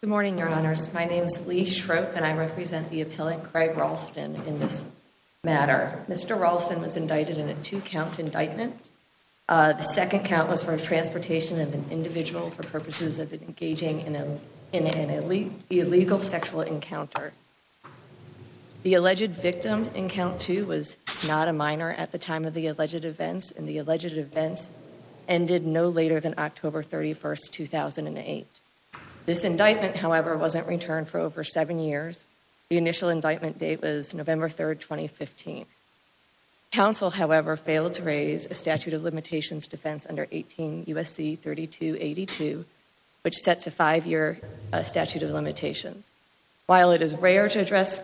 Good morning, Your Honors. My name is Lee Schroep, and I represent the appellant Craig Ralston in this matter. Mr. Ralston was indicted in a two-count indictment. The second count was for transportation of an individual for purposes of engaging in an illegal sexual encounter. The alleged victim in count two was not a minor at the time of the alleged events, and the alleged events ended no later than October 31, 2008. This indictment, however, wasn't returned for over seven years. The initial indictment date was November 3, 2015. Counsel, however, failed to raise a statute of limitations defense under 18 U.S.C. 3282, which sets a five-year statute of limitations. While it is rare to address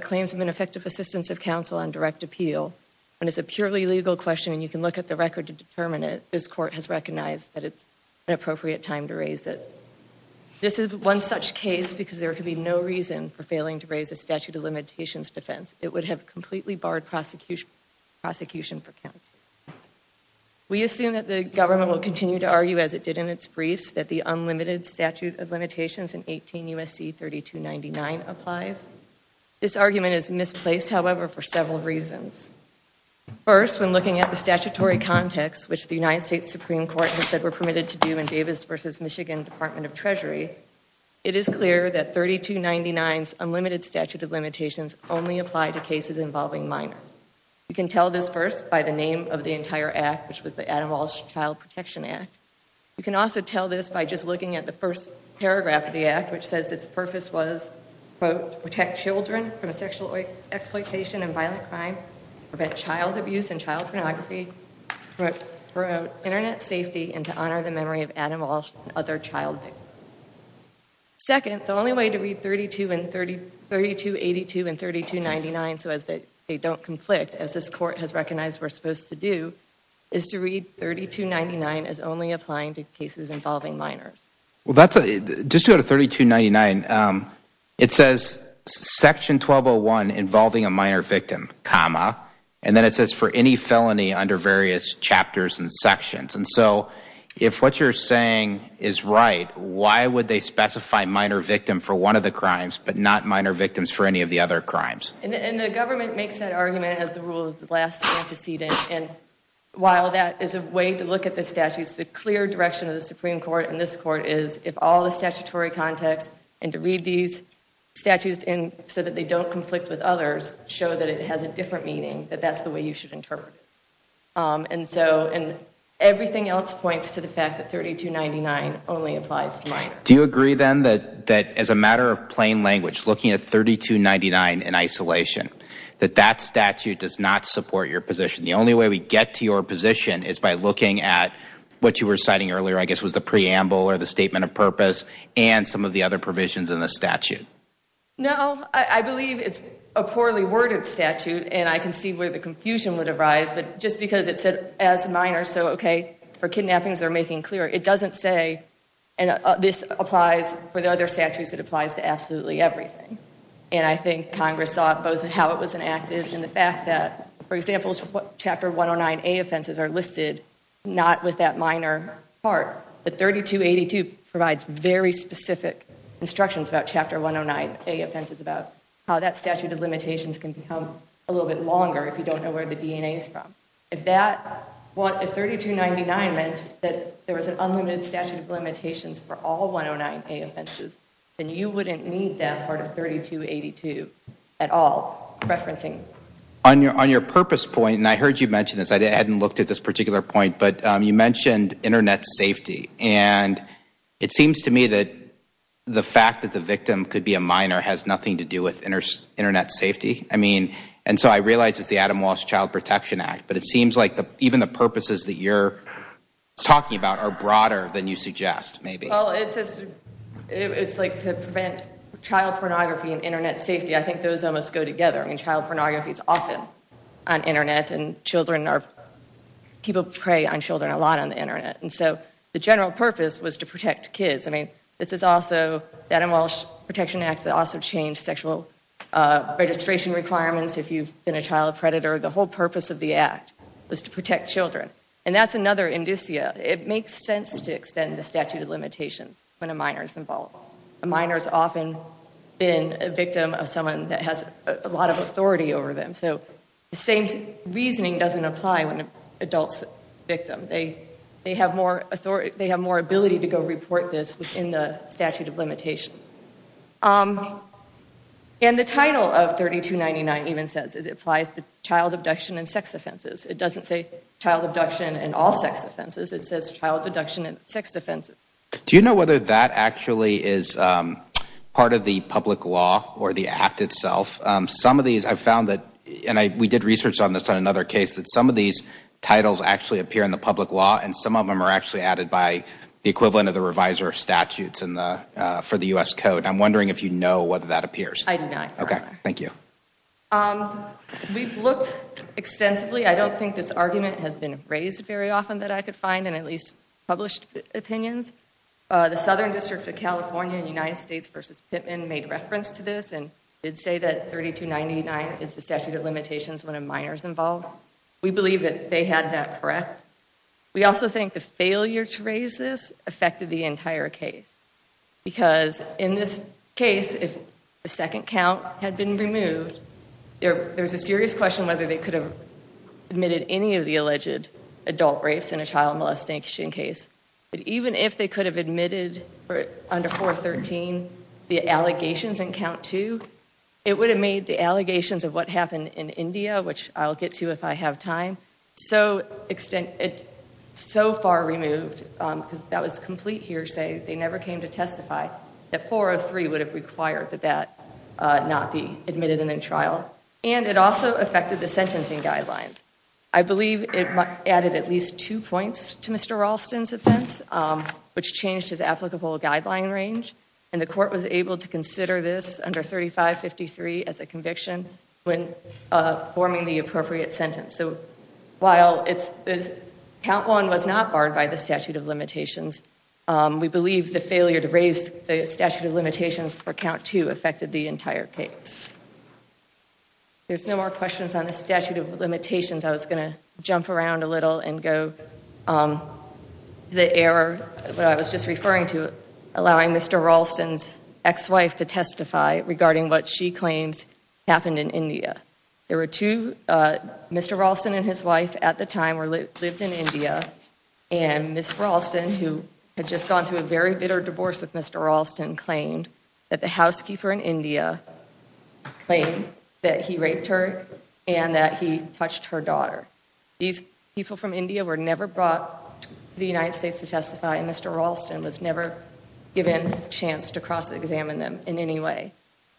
claims of ineffective assistance of counsel on direct appeal, when it's a purely legal question and you can look at the record to determine it, this Court has recognized that it's an appropriate time to raise it. This is one such case because there could be no reason for failing to raise a statute of limitations defense. It would have completely barred prosecution for count two. We assume that the government will continue to argue, as it did in its briefs, that the unlimited statute of limitations in 18 U.S.C. 3299 applies. This argument is misplaced, however, for several reasons. First, when looking at the statutory context, which the United States Supreme Court has said were permitted to do in Davis v. Michigan Department of Treasury, it is clear that 3299's unlimited statute of limitations only apply to cases involving minors. You can tell this first by the name of the entire act, which was the Adam Walsh Child Protection Act. You can also tell this by just looking at the first paragraph of the act, which says its purpose was to protect children from sexual exploitation and violent crime, prevent child abuse and child pornography, promote Internet safety, and to honor the memory of Adam Walsh and other child victims. Second, the only way to read 3282 and 3299 so that they don't conflict, as this court has recognized we're supposed to do, is to read 3299 as only applying to cases involving minors. Well, just to go to 3299, it says section 1201 involving a minor victim, comma, and then it says for any felony under various chapters and sections. And so if what you're saying is right, why would they specify minor victim for one of the crimes but not minor victims for any of the other crimes? And the government makes that argument as the rule of the last antecedent. And while that is a way to look at the statutes, the clear direction of the Supreme Court and this court is if all the statutory context and to read these statutes so that they don't conflict with others show that it has a different meaning, that that's the way you should interpret it. And so everything else points to the fact that 3299 only applies to minors. Do you agree, then, that as a matter of plain language, looking at 3299 in isolation, that that statute does not support your position? The only way we get to your position is by looking at what you were citing earlier, I guess, was the preamble or the statement of purpose and some of the other provisions in the statute. No, I believe it's a poorly worded statute and I can see where the confusion would arise. But just because it said as minors, so okay, for kidnappings they're making clear, it doesn't say, and this applies for the other statutes, it applies to absolutely everything. And I think Congress saw both how it was enacted and the fact that, for example, Chapter 109A offenses are listed not with that minor part. The 3282 provides very specific instructions about Chapter 109A offenses about how that statute of limitations can become a little bit longer if you don't know where the DNA is from. If that, if 3299 meant that there was an unlimited statute of limitations for all 109A offenses, then you wouldn't need that part of 3282 at all, referencing. On your purpose point, and I heard you mention this, I hadn't looked at this particular point, but you mentioned Internet safety. And it seems to me that the fact that the victim could be a minor has nothing to do with Internet safety. I mean, and so I realize it's the Adam Walsh Child Protection Act, but it seems like even the purposes that you're talking about are broader than you suggest, maybe. Well, it's like to prevent child pornography and Internet safety, I think those almost go together. I mean, child pornography is often on Internet and children are, people prey on children a lot on the Internet. And so the general purpose was to protect kids. I mean, this is also, that Adam Walsh Protection Act also changed sexual registration requirements if you've been a child predator. The whole purpose of the act was to protect children. And that's another indicia. It makes sense to extend the statute of limitations when a minor's involved. A minor's often been a victim of someone that has a lot of authority over them. So the same reasoning doesn't apply when an adult's a victim. They have more authority, they have more ability to go report this within the statute of limitations. And the title of 3299 even says it applies to child abduction and sex offenses. It doesn't say child abduction and all sex offenses. It says child abduction and sex offenses. Do you know whether that actually is part of the public law or the act itself? Some of these, I found that, and we did research on this on another case, that some of these titles actually appear in the public law and some of them are actually added by the equivalent of the reviser of statutes for the U.S. Code. I'm wondering if you know whether that appears. I do not. Okay, thank you. We've looked extensively. I don't think this argument has been raised very often that I could find in at least published opinions. The Southern District of California in United States v. Pittman made reference to this and did say that 3299 is the statute of limitations when a minor's involved. We believe that they had that correct. We also think the failure to raise this affected the entire case because in this case, if the second count had been removed, there's a serious question whether they could have admitted any of the alleged adult rapes in a child molestation case. But even if they could have admitted under 413 the allegations in count two, it would have made the allegations of what happened in India, which I'll get to if I have time, so far removed because that was complete hearsay. They never came to testify that 403 would have required that that not be admitted and in trial. And it also affected the sentencing guidelines. I believe it added at least two points to Mr. Ralston's offense, which changed his applicable guideline range. And the court was able to consider this under 3553 as a conviction when forming the appropriate sentence. So while count one was not barred by the statute of limitations, we believe the failure to raise the statute of limitations for count two affected the entire case. There's no more questions on the statute of limitations. I was going to jump around a little and go to the error that I was just referring to, allowing Mr. Ralston's ex-wife to testify regarding what she claims happened in India. There were two, Mr. Ralston and his wife at the time lived in India, and Ms. Ralston, who had just gone through a very bitter divorce with Mr. Ralston, claimed that the housekeeper in India claimed that he raped her and that he touched her daughter. These people from India were never brought to the United States to testify, and Mr. Ralston was never given a chance to cross-examine them in any way.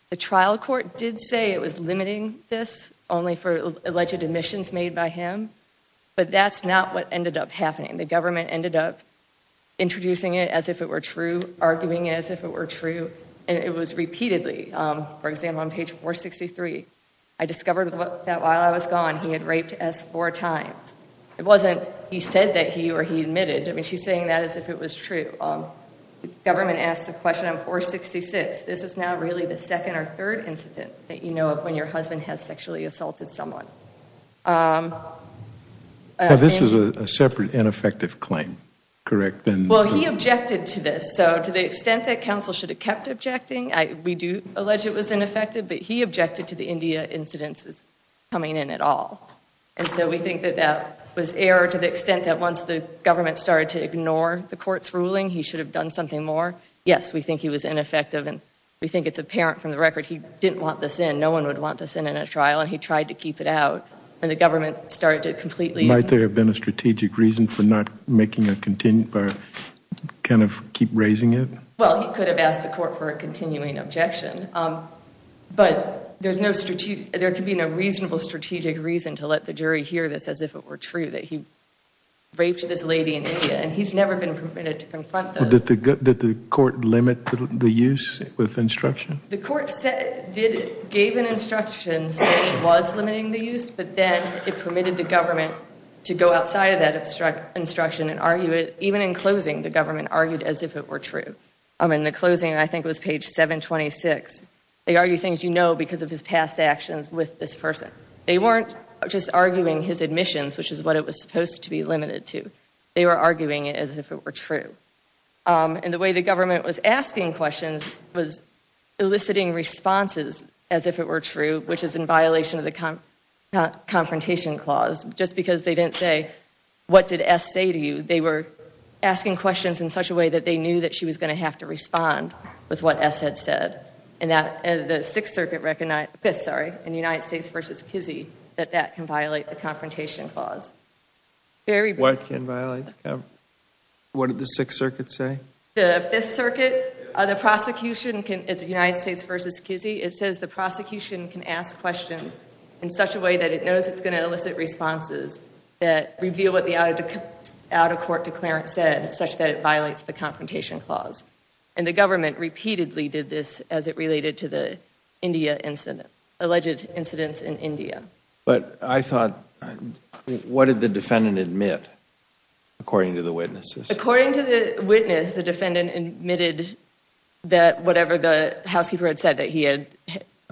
The trial court did say it was limiting this only for alleged omissions made by him, but that's not what ended up happening. The government ended up introducing it as if it were true, arguing it as if it were true, and it was repeatedly. For example, on page 463, I discovered that while I was gone, he had raped S four times. It wasn't he said that he or he admitted. I mean, she's saying that as if it was true. The government asked the question on 466. This is now really the second or third incident that you know of when your husband has sexually assaulted someone. This is a separate ineffective claim, correct? Well, he objected to this. So to the extent that counsel should have kept objecting, we do allege it was ineffective, but he objected to the India incidences coming in at all. And so we think that that was error to the extent that once the government started to ignore the court's ruling, he should have done something more. Yes, we think he was ineffective, and we think it's apparent from the record he didn't want this in. No one would want this in in a trial, and he tried to keep it out. And the government started to completely – Might there have been a strategic reason for not making a – kind of keep raising it? Well, he could have asked the court for a continuing objection. But there could be no reasonable strategic reason to let the jury hear this as if it were true, that he raped this lady in India, and he's never been permitted to confront those. Did the court limit the use with instruction? The court gave an instruction saying it was limiting the use, but then it permitted the government to go outside of that instruction and argue it. Even in closing, the government argued as if it were true. In the closing, I think it was page 726, they argue things you know because of his past actions with this person. They weren't just arguing his admissions, which is what it was supposed to be limited to. They were arguing it as if it were true. And the way the government was asking questions was eliciting responses as if it were true, which is in violation of the confrontation clause. Just because they didn't say, what did S say to you, they were asking questions in such a way that they knew that she was going to have to respond with what S had said. And the Fifth Circuit in the United States v. Kizzee, that that can violate the confrontation clause. What did the Sixth Circuit say? The Fifth Circuit, the prosecution in the United States v. Kizzee, it says the prosecution can ask questions in such a way that it knows it's going to elicit responses that reveal what the out-of-court declarant said, such that it violates the confrontation clause. And the government repeatedly did this as it related to the India incident, alleged incidents in India. But I thought, what did the defendant admit, according to the witnesses? According to the witness, the defendant admitted that whatever the housekeeper had said, that he had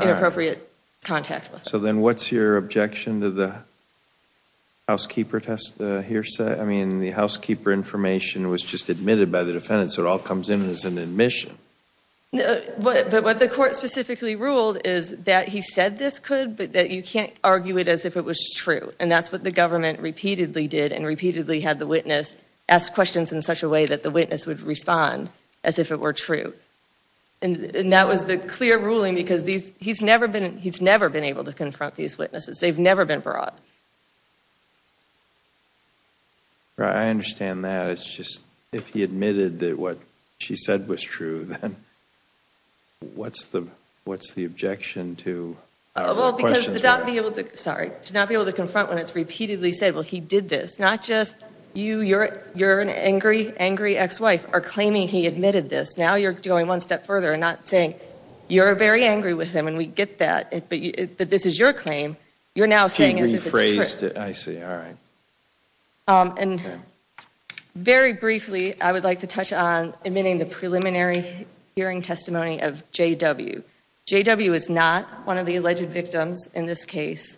inappropriate contact with her. So then what's your objection to the housekeeper test hearsay? I mean, the housekeeper information was just admitted by the defendant, so it all comes in as an admission. But what the court specifically ruled is that he said this could, but that you can't argue it as if it was true. And that's what the government repeatedly did and repeatedly had the witness ask questions in such a way that the witness would respond as if it were true. And that was the clear ruling because he's never been able to confront these witnesses. They've never been brought. I understand that. It's just if he admitted that what she said was true, then what's the objection to our questions? Well, because to not be able to confront when it's repeatedly said, well, he did this. Not just you, you're an angry, angry ex-wife, are claiming he admitted this. Now you're going one step further and not saying you're very angry with him and we get that, but this is your claim, you're now saying as if it's true. She rephrased it. I see. All right. And very briefly, I would like to touch on admitting the preliminary hearing testimony of J.W. J.W. is not one of the alleged victims in this case,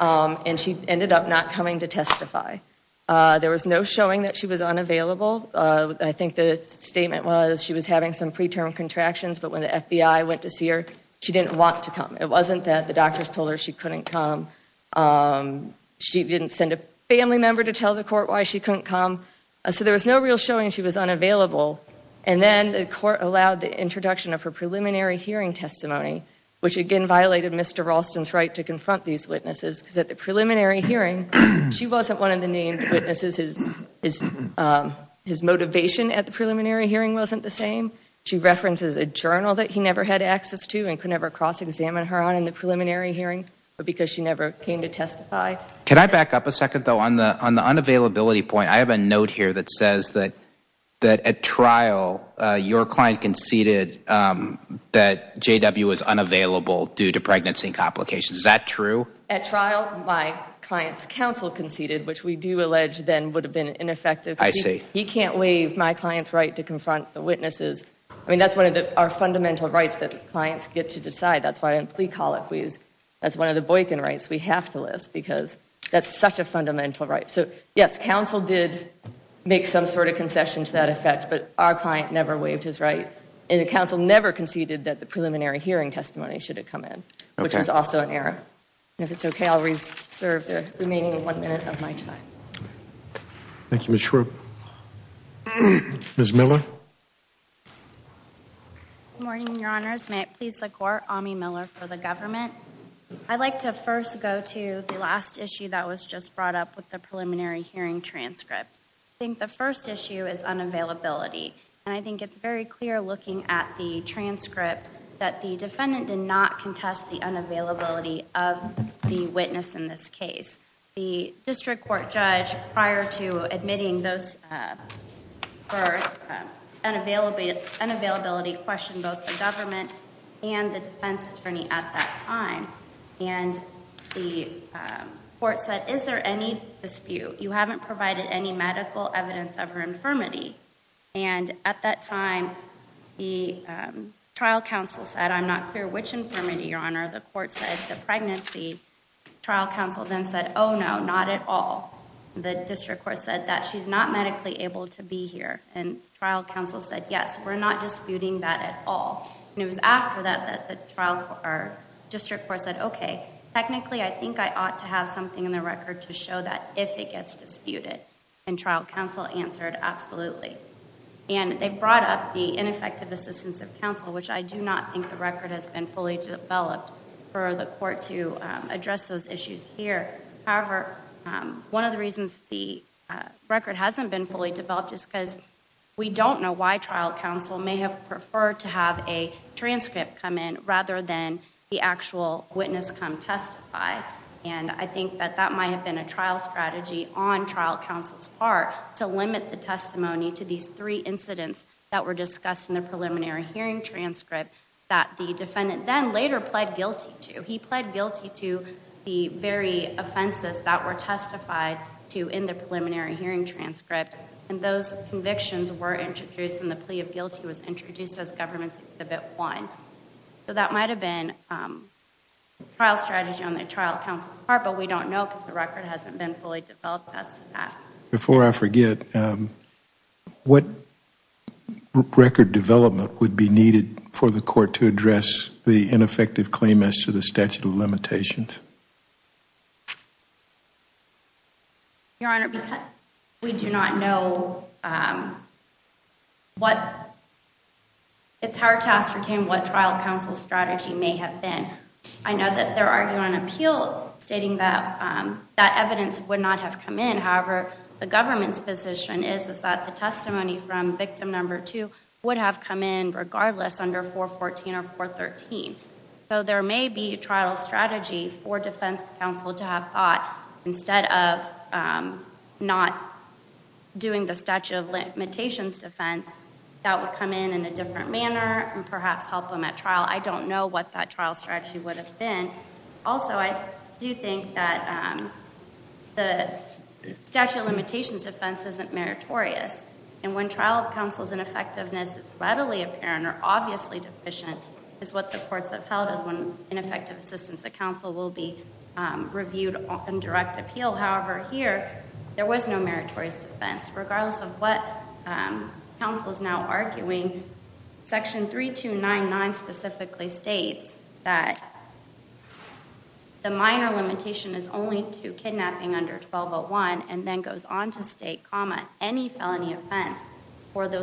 and she ended up not coming to testify. There was no showing that she was unavailable. I think the statement was she was having some preterm contractions, but when the FBI went to see her, she didn't want to come. It wasn't that the doctors told her she couldn't come. She didn't send a family member to tell the court why she couldn't come. So there was no real showing she was unavailable. And then the court allowed the introduction of her preliminary hearing testimony, which again violated Mr. Ralston's right to confront these witnesses because at the preliminary hearing, she wasn't one of the named witnesses. His motivation at the preliminary hearing wasn't the same. She references a journal that he never had access to and could never cross-examine her on in the preliminary hearing because she never came to testify. Can I back up a second, though? On the unavailability point, I have a note here that says that at trial, your client conceded that J.W. was unavailable due to pregnancy complications. Is that true? At trial, my client's counsel conceded, which we do allege then would have been ineffective. I see. He can't waive my client's right to confront the witnesses. I mean, that's one of our fundamental rights that clients get to decide. That's why I didn't plea colloquy. That's one of the Boykin rights we have to list because that's such a fundamental right. So, yes, counsel did make some sort of concession to that effect, but our client never waived his right, and the counsel never conceded that the preliminary hearing testimony should have come in, which is also an error. And if it's okay, I'll reserve the remaining one minute of my time. Thank you, Ms. Shrew. Ms. Miller? Good morning, Your Honors. May it please the Court, Ami Miller for the government. I'd like to first go to the last issue that was just brought up with the preliminary hearing transcript. I think the first issue is unavailability, and I think it's very clear looking at the transcript that the defendant did not contest the unavailability of the witness in this case. The district court judge, prior to admitting those for unavailability, questioned both the government and the defense attorney at that time, and the court said, is there any dispute? You haven't provided any medical evidence of her infirmity. And at that time, the trial counsel said, I'm not clear which infirmity, Your Honor. The court said the pregnancy. Trial counsel then said, oh, no, not at all. The district court said that she's not medically able to be here. And trial counsel said, yes, we're not disputing that at all. And it was after that that the district court said, okay, technically I think I ought to have something in the record to show that if it gets disputed. And trial counsel answered, absolutely. And they brought up the ineffective assistance of counsel, which I do not think the record has been fully developed for the court to address those issues here. However, one of the reasons the record hasn't been fully developed is because we don't know why trial counsel may have preferred to have a transcript come in rather than the actual witness come testify. And I think that that might have been a trial strategy on trial counsel's part to limit the testimony to these three incidents that were discussed in the preliminary hearing transcript that the defendant then later pled guilty to. He pled guilty to the very offenses that were testified to in the preliminary hearing transcript. And those convictions were introduced, and the plea of guilty was introduced as Government Exhibit 1. So that might have been a trial strategy on the trial counsel's part, but we don't know because the record hasn't been fully developed as to that. Before I forget, what record development would be needed for the court to address the ineffective claim as to the statute of limitations? Your Honor, we do not know what it's hard to ascertain what trial counsel's strategy may have been. I know that they're arguing an appeal stating that that evidence would not have come in. However, the government's position is that the testimony from victim number 2 would have come in regardless under 414 or 413. So there may be a trial strategy for defense counsel to have thought, instead of not doing the statute of limitations defense, that would come in in a different manner and perhaps help him at trial. I don't know what that trial strategy would have been. Also, I do think that the statute of limitations defense isn't meritorious. And when trial counsel's ineffectiveness is readily apparent or obviously deficient, is what the courts have held is when ineffective assistance at counsel will be reviewed in direct appeal. However, here, there was no meritorious defense. Regardless of what counsel is now arguing, Section 3299 specifically states that the minor limitation is only to kidnapping under 1201 and then goes on to state, any felony offense for the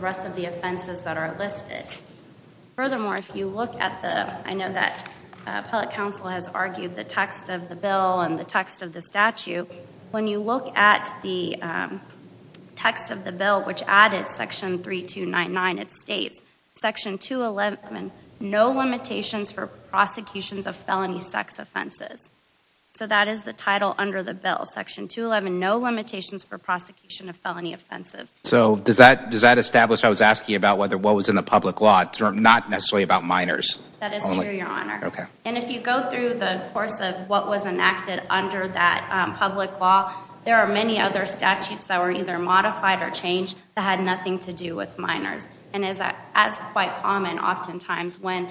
rest of the offenses that are listed. Furthermore, I know that appellate counsel has argued the text of the bill and the text of the statute. When you look at the text of the bill, which added Section 3299, it states, Section 211, no limitations for prosecutions of felony sex offenses. So that is the title under the bill. Section 211, no limitations for prosecution of felony offenses. So does that establish, I was asking about what was in the public law, not necessarily about minors. That is true, Your Honor. And if you go through the course of what was enacted under that public law, there are many other statutes that were either modified or changed that had nothing to do with minors. And as quite common, oftentimes, when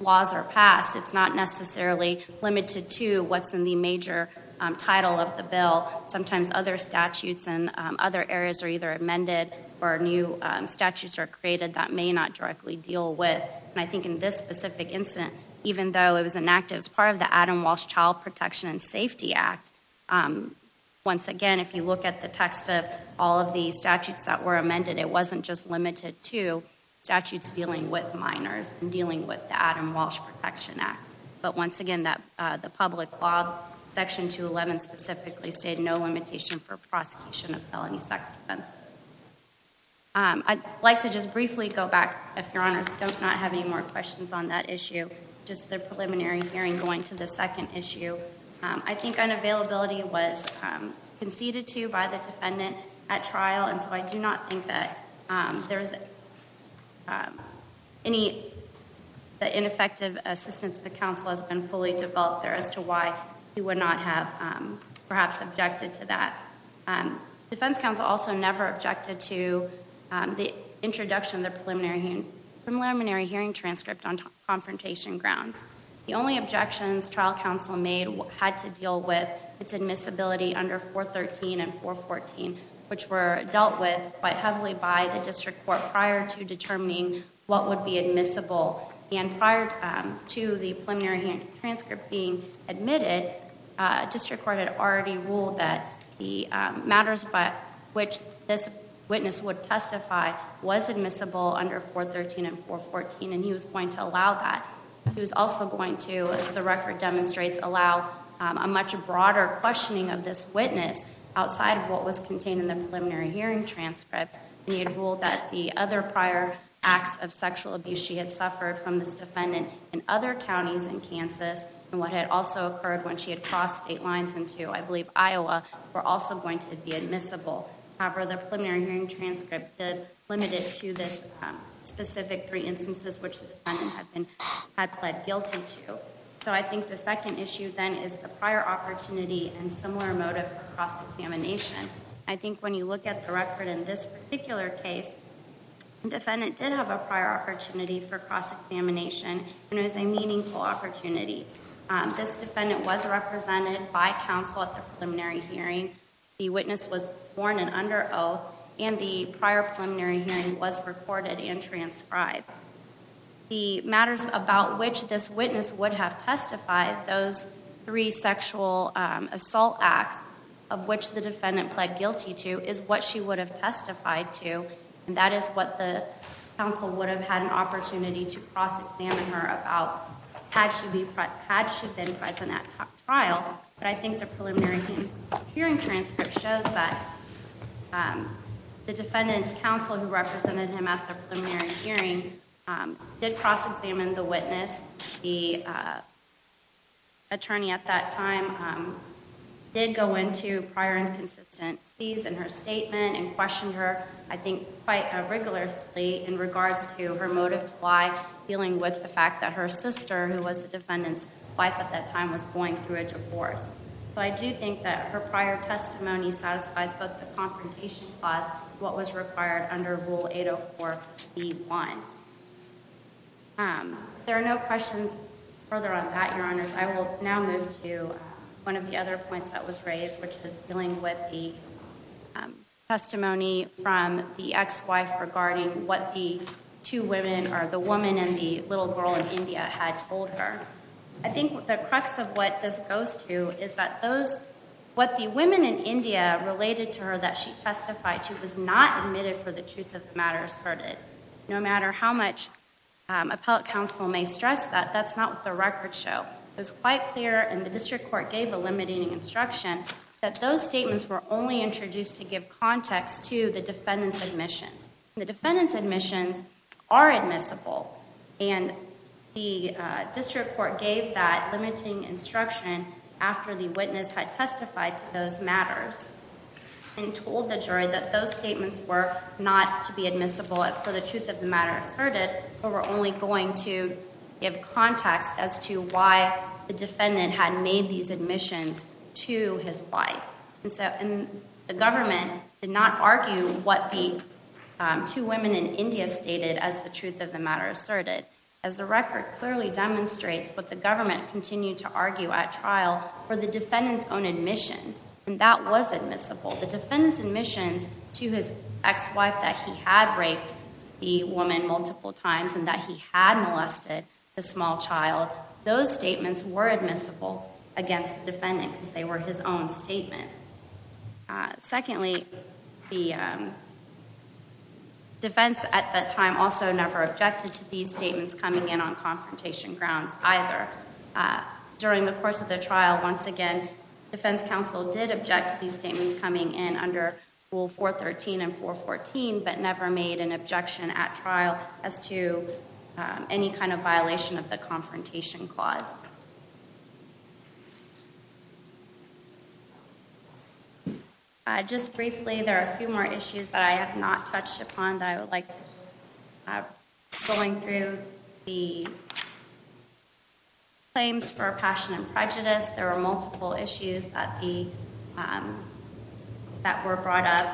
laws are passed, it's not necessarily limited to what's in the major title of the bill. Sometimes other statutes and other areas are either amended or new statutes are created that may not directly deal with. And I think in this specific incident, even though it was enacted as part of the Adam Walsh Child Protection and Safety Act, once again, if you look at the text of all of the statutes that were amended, it wasn't just limited to statutes dealing with minors and dealing with the Adam Walsh Protection Act. But once again, the public law, Section 211 specifically, stated no limitation for prosecution of felony sex offense. I'd like to just briefly go back, if Your Honor does not have any more questions on that issue, just the preliminary hearing going to the second issue. I think unavailability was conceded to by the defendant at trial, and so I do not think that any of the ineffective assistance of the counsel has been fully developed there as to why he would not have perhaps objected to that. The defense counsel also never objected to the introduction of the preliminary hearing transcript on confrontation grounds. The only objections trial counsel made had to deal with its admissibility under 413 and 414, which were dealt with quite heavily by the district court prior to determining what would be admissible. And prior to the preliminary transcript being admitted, district court had already ruled that the matters by which this witness would testify was admissible under 413 and 414, and he was going to allow that. He was also going to, as the record demonstrates, allow a much broader questioning of this witness outside of what was contained in the preliminary hearing transcript. And he had ruled that the other prior acts of sexual abuse she had suffered from this defendant in other counties in Kansas, and what had also occurred when she had crossed state lines into, I believe, Iowa, were also going to be admissible. However, the preliminary hearing transcript did limit it to this specific three instances which the defendant had pled guilty to. So I think the second issue then is the prior opportunity and similar motive for cross-examination. I think when you look at the record in this particular case, the defendant did have a prior opportunity for cross-examination, and it was a meaningful opportunity. This defendant was represented by counsel at the preliminary hearing. The witness was sworn in under oath, and the prior preliminary hearing was recorded and transcribed. The matters about which this witness would have testified, those three sexual assault acts of which the defendant pled guilty to, is what she would have testified to, and that is what the counsel would have had an opportunity to cross-examine her about had she been present at trial. But I think the preliminary hearing transcript shows that the defendant's counsel, who represented him at the preliminary hearing, did cross-examine the witness. The attorney at that time did go into prior inconsistencies in her statement and questioned her, I think, quite rigorously in regards to her motive to lie, dealing with the fact that her sister, who was the defendant's wife at that time, was going through a divorce. So I do think that her prior testimony satisfies both the confrontation clause and what was required under Rule 804b.1. If there are no questions further on that, Your Honors, I will now move to one of the other points that was raised, which is dealing with the testimony from the ex-wife regarding what the two women, or the woman and the little girl in India, had told her. I think the crux of what this goes to is that what the women in India related to her that she testified to was not admitted for the truth of the matter asserted. No matter how much appellate counsel may stress that, that's not what the records show. It was quite clear, and the district court gave a limiting instruction, that those statements were only introduced to give context to the defendant's admission. The defendant's admissions are admissible, and the district court gave that limiting instruction after the witness had testified to those matters and told the jury that those statements were not to be admissible for the truth of the matter asserted or were only going to give context as to why the defendant had made these admissions to his wife. The government did not argue what the two women in India stated as the truth of the matter asserted, as the record clearly demonstrates what the government continued to argue at trial for the defendant's own admission, and that was admissible. The defendant's admissions to his ex-wife that he had raped the woman multiple times and that he had molested the small child, those statements were admissible against the defendant because they were his own statement. Secondly, the defense at that time also never objected to these statements coming in on confrontation grounds either. During the course of the trial, once again, defense counsel did object to these statements coming in under Rule 413 and 414, but never made an objection at trial as to any kind of violation of the confrontation clause. Just briefly, there are a few more issues that I have not touched upon that I would like to bring up. Going through the claims for passion and prejudice, there were multiple issues that were brought up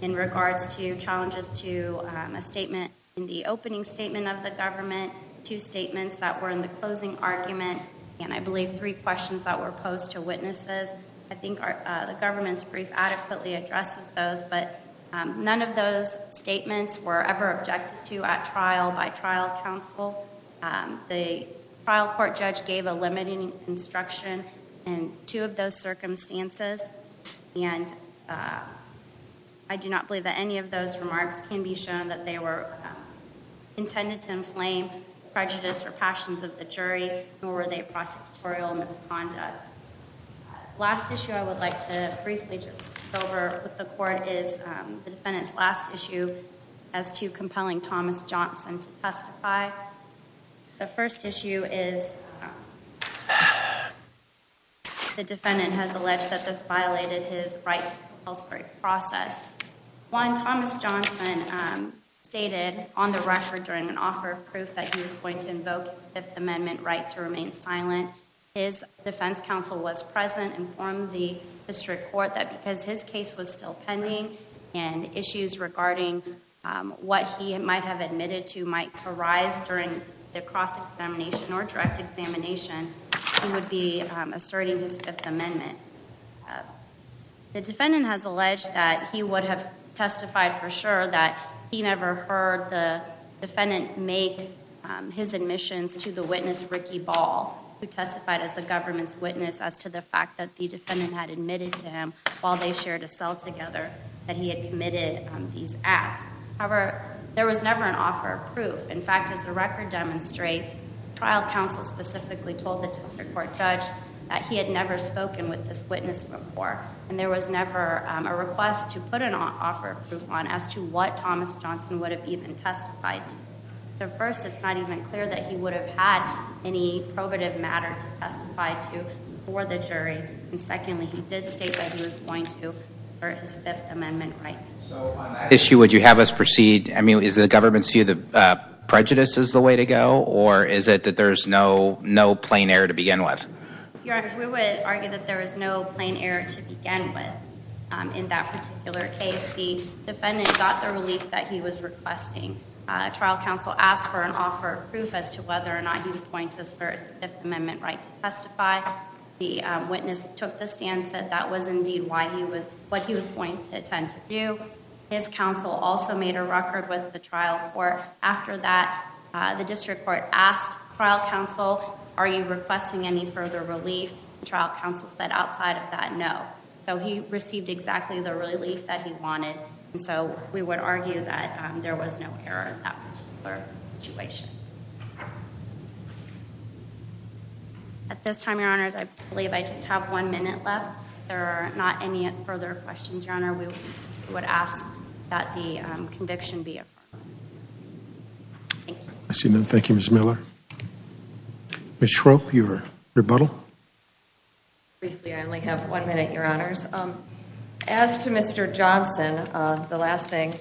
in regards to challenges to a statement in the opening statement of the government, two statements that were in the closing argument, and I believe three questions that were posed to witnesses. I think the government's brief adequately addresses those, but none of those statements were ever objected to at trial by trial counsel. The trial court judge gave a limiting instruction in two of those circumstances, and I do not believe that any of those remarks can be shown that they were intended to inflame prejudice or passions of the jury, nor were they prosecutorial misconduct. The last issue I would like to briefly just go over with the court is the defendant's last issue as to compelling Thomas Johnson to testify. The first issue is the defendant has alleged that this violated his right to compulsory process. One, Thomas Johnson stated on the record during an offer of proof that he was going to invoke his Fifth Amendment right to remain silent. His defense counsel was present and informed the district court that because his case was still pending and issues regarding what he might have admitted to might arise during the cross-examination or direct examination, he would be asserting his Fifth Amendment. The defendant has alleged that he would have testified for sure that he never heard the defendant make his admissions to the witness, Ricky Ball, who testified as the government's witness as to the fact that the defendant had admitted to him while they shared a cell together that he had committed these acts. However, there was never an offer of proof. In fact, as the record demonstrates, trial counsel specifically told the district court judge that he had never spoken with this witness before, and there was never a request to put an offer of proof on as to what Thomas Johnson would have even testified to. The first, it's not even clear that he would have had any probative matter to testify to for the jury. And secondly, he did state that he was going to assert his Fifth Amendment right. So on that issue, would you have us proceed? I mean, is the government's view that prejudice is the way to go, or is it that there's no plain error to begin with? Your Honor, we would argue that there is no plain error to begin with. In that particular case, the defendant got the relief that he was requesting. Trial counsel asked for an offer of proof as to whether or not he was going to assert his Fifth Amendment right to testify. The witness took the stance that that was indeed what he was going to attempt to do. His counsel also made a record with the trial court. After that, the district court asked trial counsel, are you requesting any further relief? Trial counsel said outside of that, no. So he received exactly the relief that he wanted. And so we would argue that there was no error in that particular situation. At this time, Your Honors, I believe I just have one minute left. There are not any further questions, Your Honor. We would ask that the conviction be approved. Thank you. Thank you, Ms. Miller. Ms. Schroep, your rebuttal? Briefly, I only have one minute, Your Honors. As to Mr. Johnson, the last thing,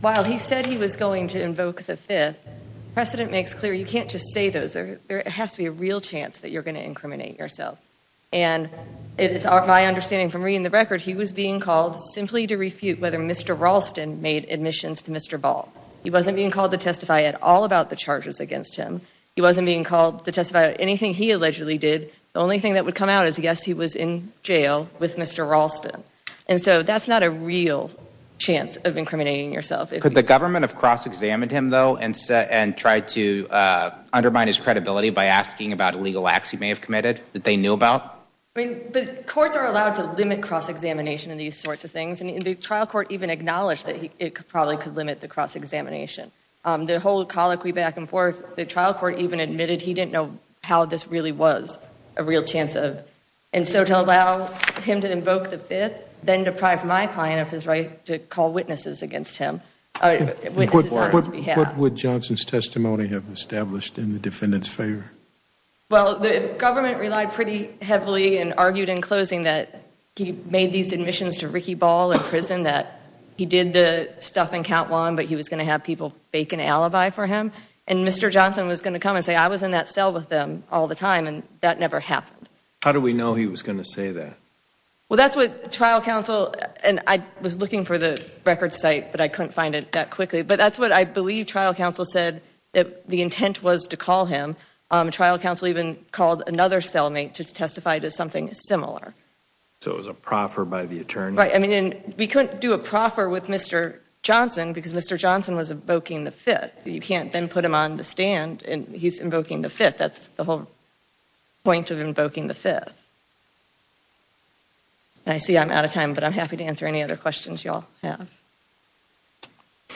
while he said he was going to invoke the Fifth, precedent makes clear you can't just say those. There has to be a real chance that you're going to incriminate yourself. And it is my understanding from reading the record, he was being called simply to refute whether Mr. Ralston made admissions to Mr. Ball. He wasn't being called to testify at all about the charges against him. He wasn't being called to testify about anything he allegedly did. The only thing that would come out is, yes, he was in jail with Mr. Ralston. And so that's not a real chance of incriminating yourself. Could the government have cross-examined him, though, and tried to undermine his credibility by asking about illegal acts he may have committed that they knew about? I mean, the courts are allowed to limit cross-examination and these sorts of things. And the trial court even acknowledged that it probably could limit the cross-examination. The whole colloquy back and forth, the trial court even admitted he didn't know how this really was a real chance of. And so to allow him to invoke the Fifth, then deprive my client of his right to call witnesses against him, witnesses on his behalf. What would Johnson's testimony have established in the defendant's favor? Well, the government relied pretty heavily and argued in closing that he made these admissions to Ricky Ball in prison, that he did the stuff in count one, but he was going to have people fake an alibi for him. And Mr. Johnson was going to come and say, I was in that cell with them all the time, and that never happened. How do we know he was going to say that? Well, that's what trial counsel, and I was looking for the record site, but I couldn't find it that quickly. But that's what I believe trial counsel said that the intent was to call him. Trial counsel even called another cellmate to testify to something similar. So it was a proffer by the attorney? Right, and we couldn't do a proffer with Mr. Johnson because Mr. Johnson was invoking the Fifth. You can't then put him on the stand, and he's invoking the Fifth. That's the whole point of invoking the Fifth. I see I'm out of time, but I'm happy to answer any other questions you all have.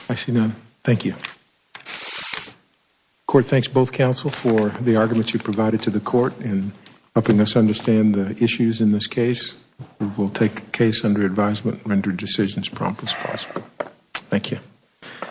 I see none. Thank you. The court thanks both counsel for the arguments you provided to the court in helping us understand the issues in this case. We will take the case under advisement and render decisions prompt as possible. Thank you.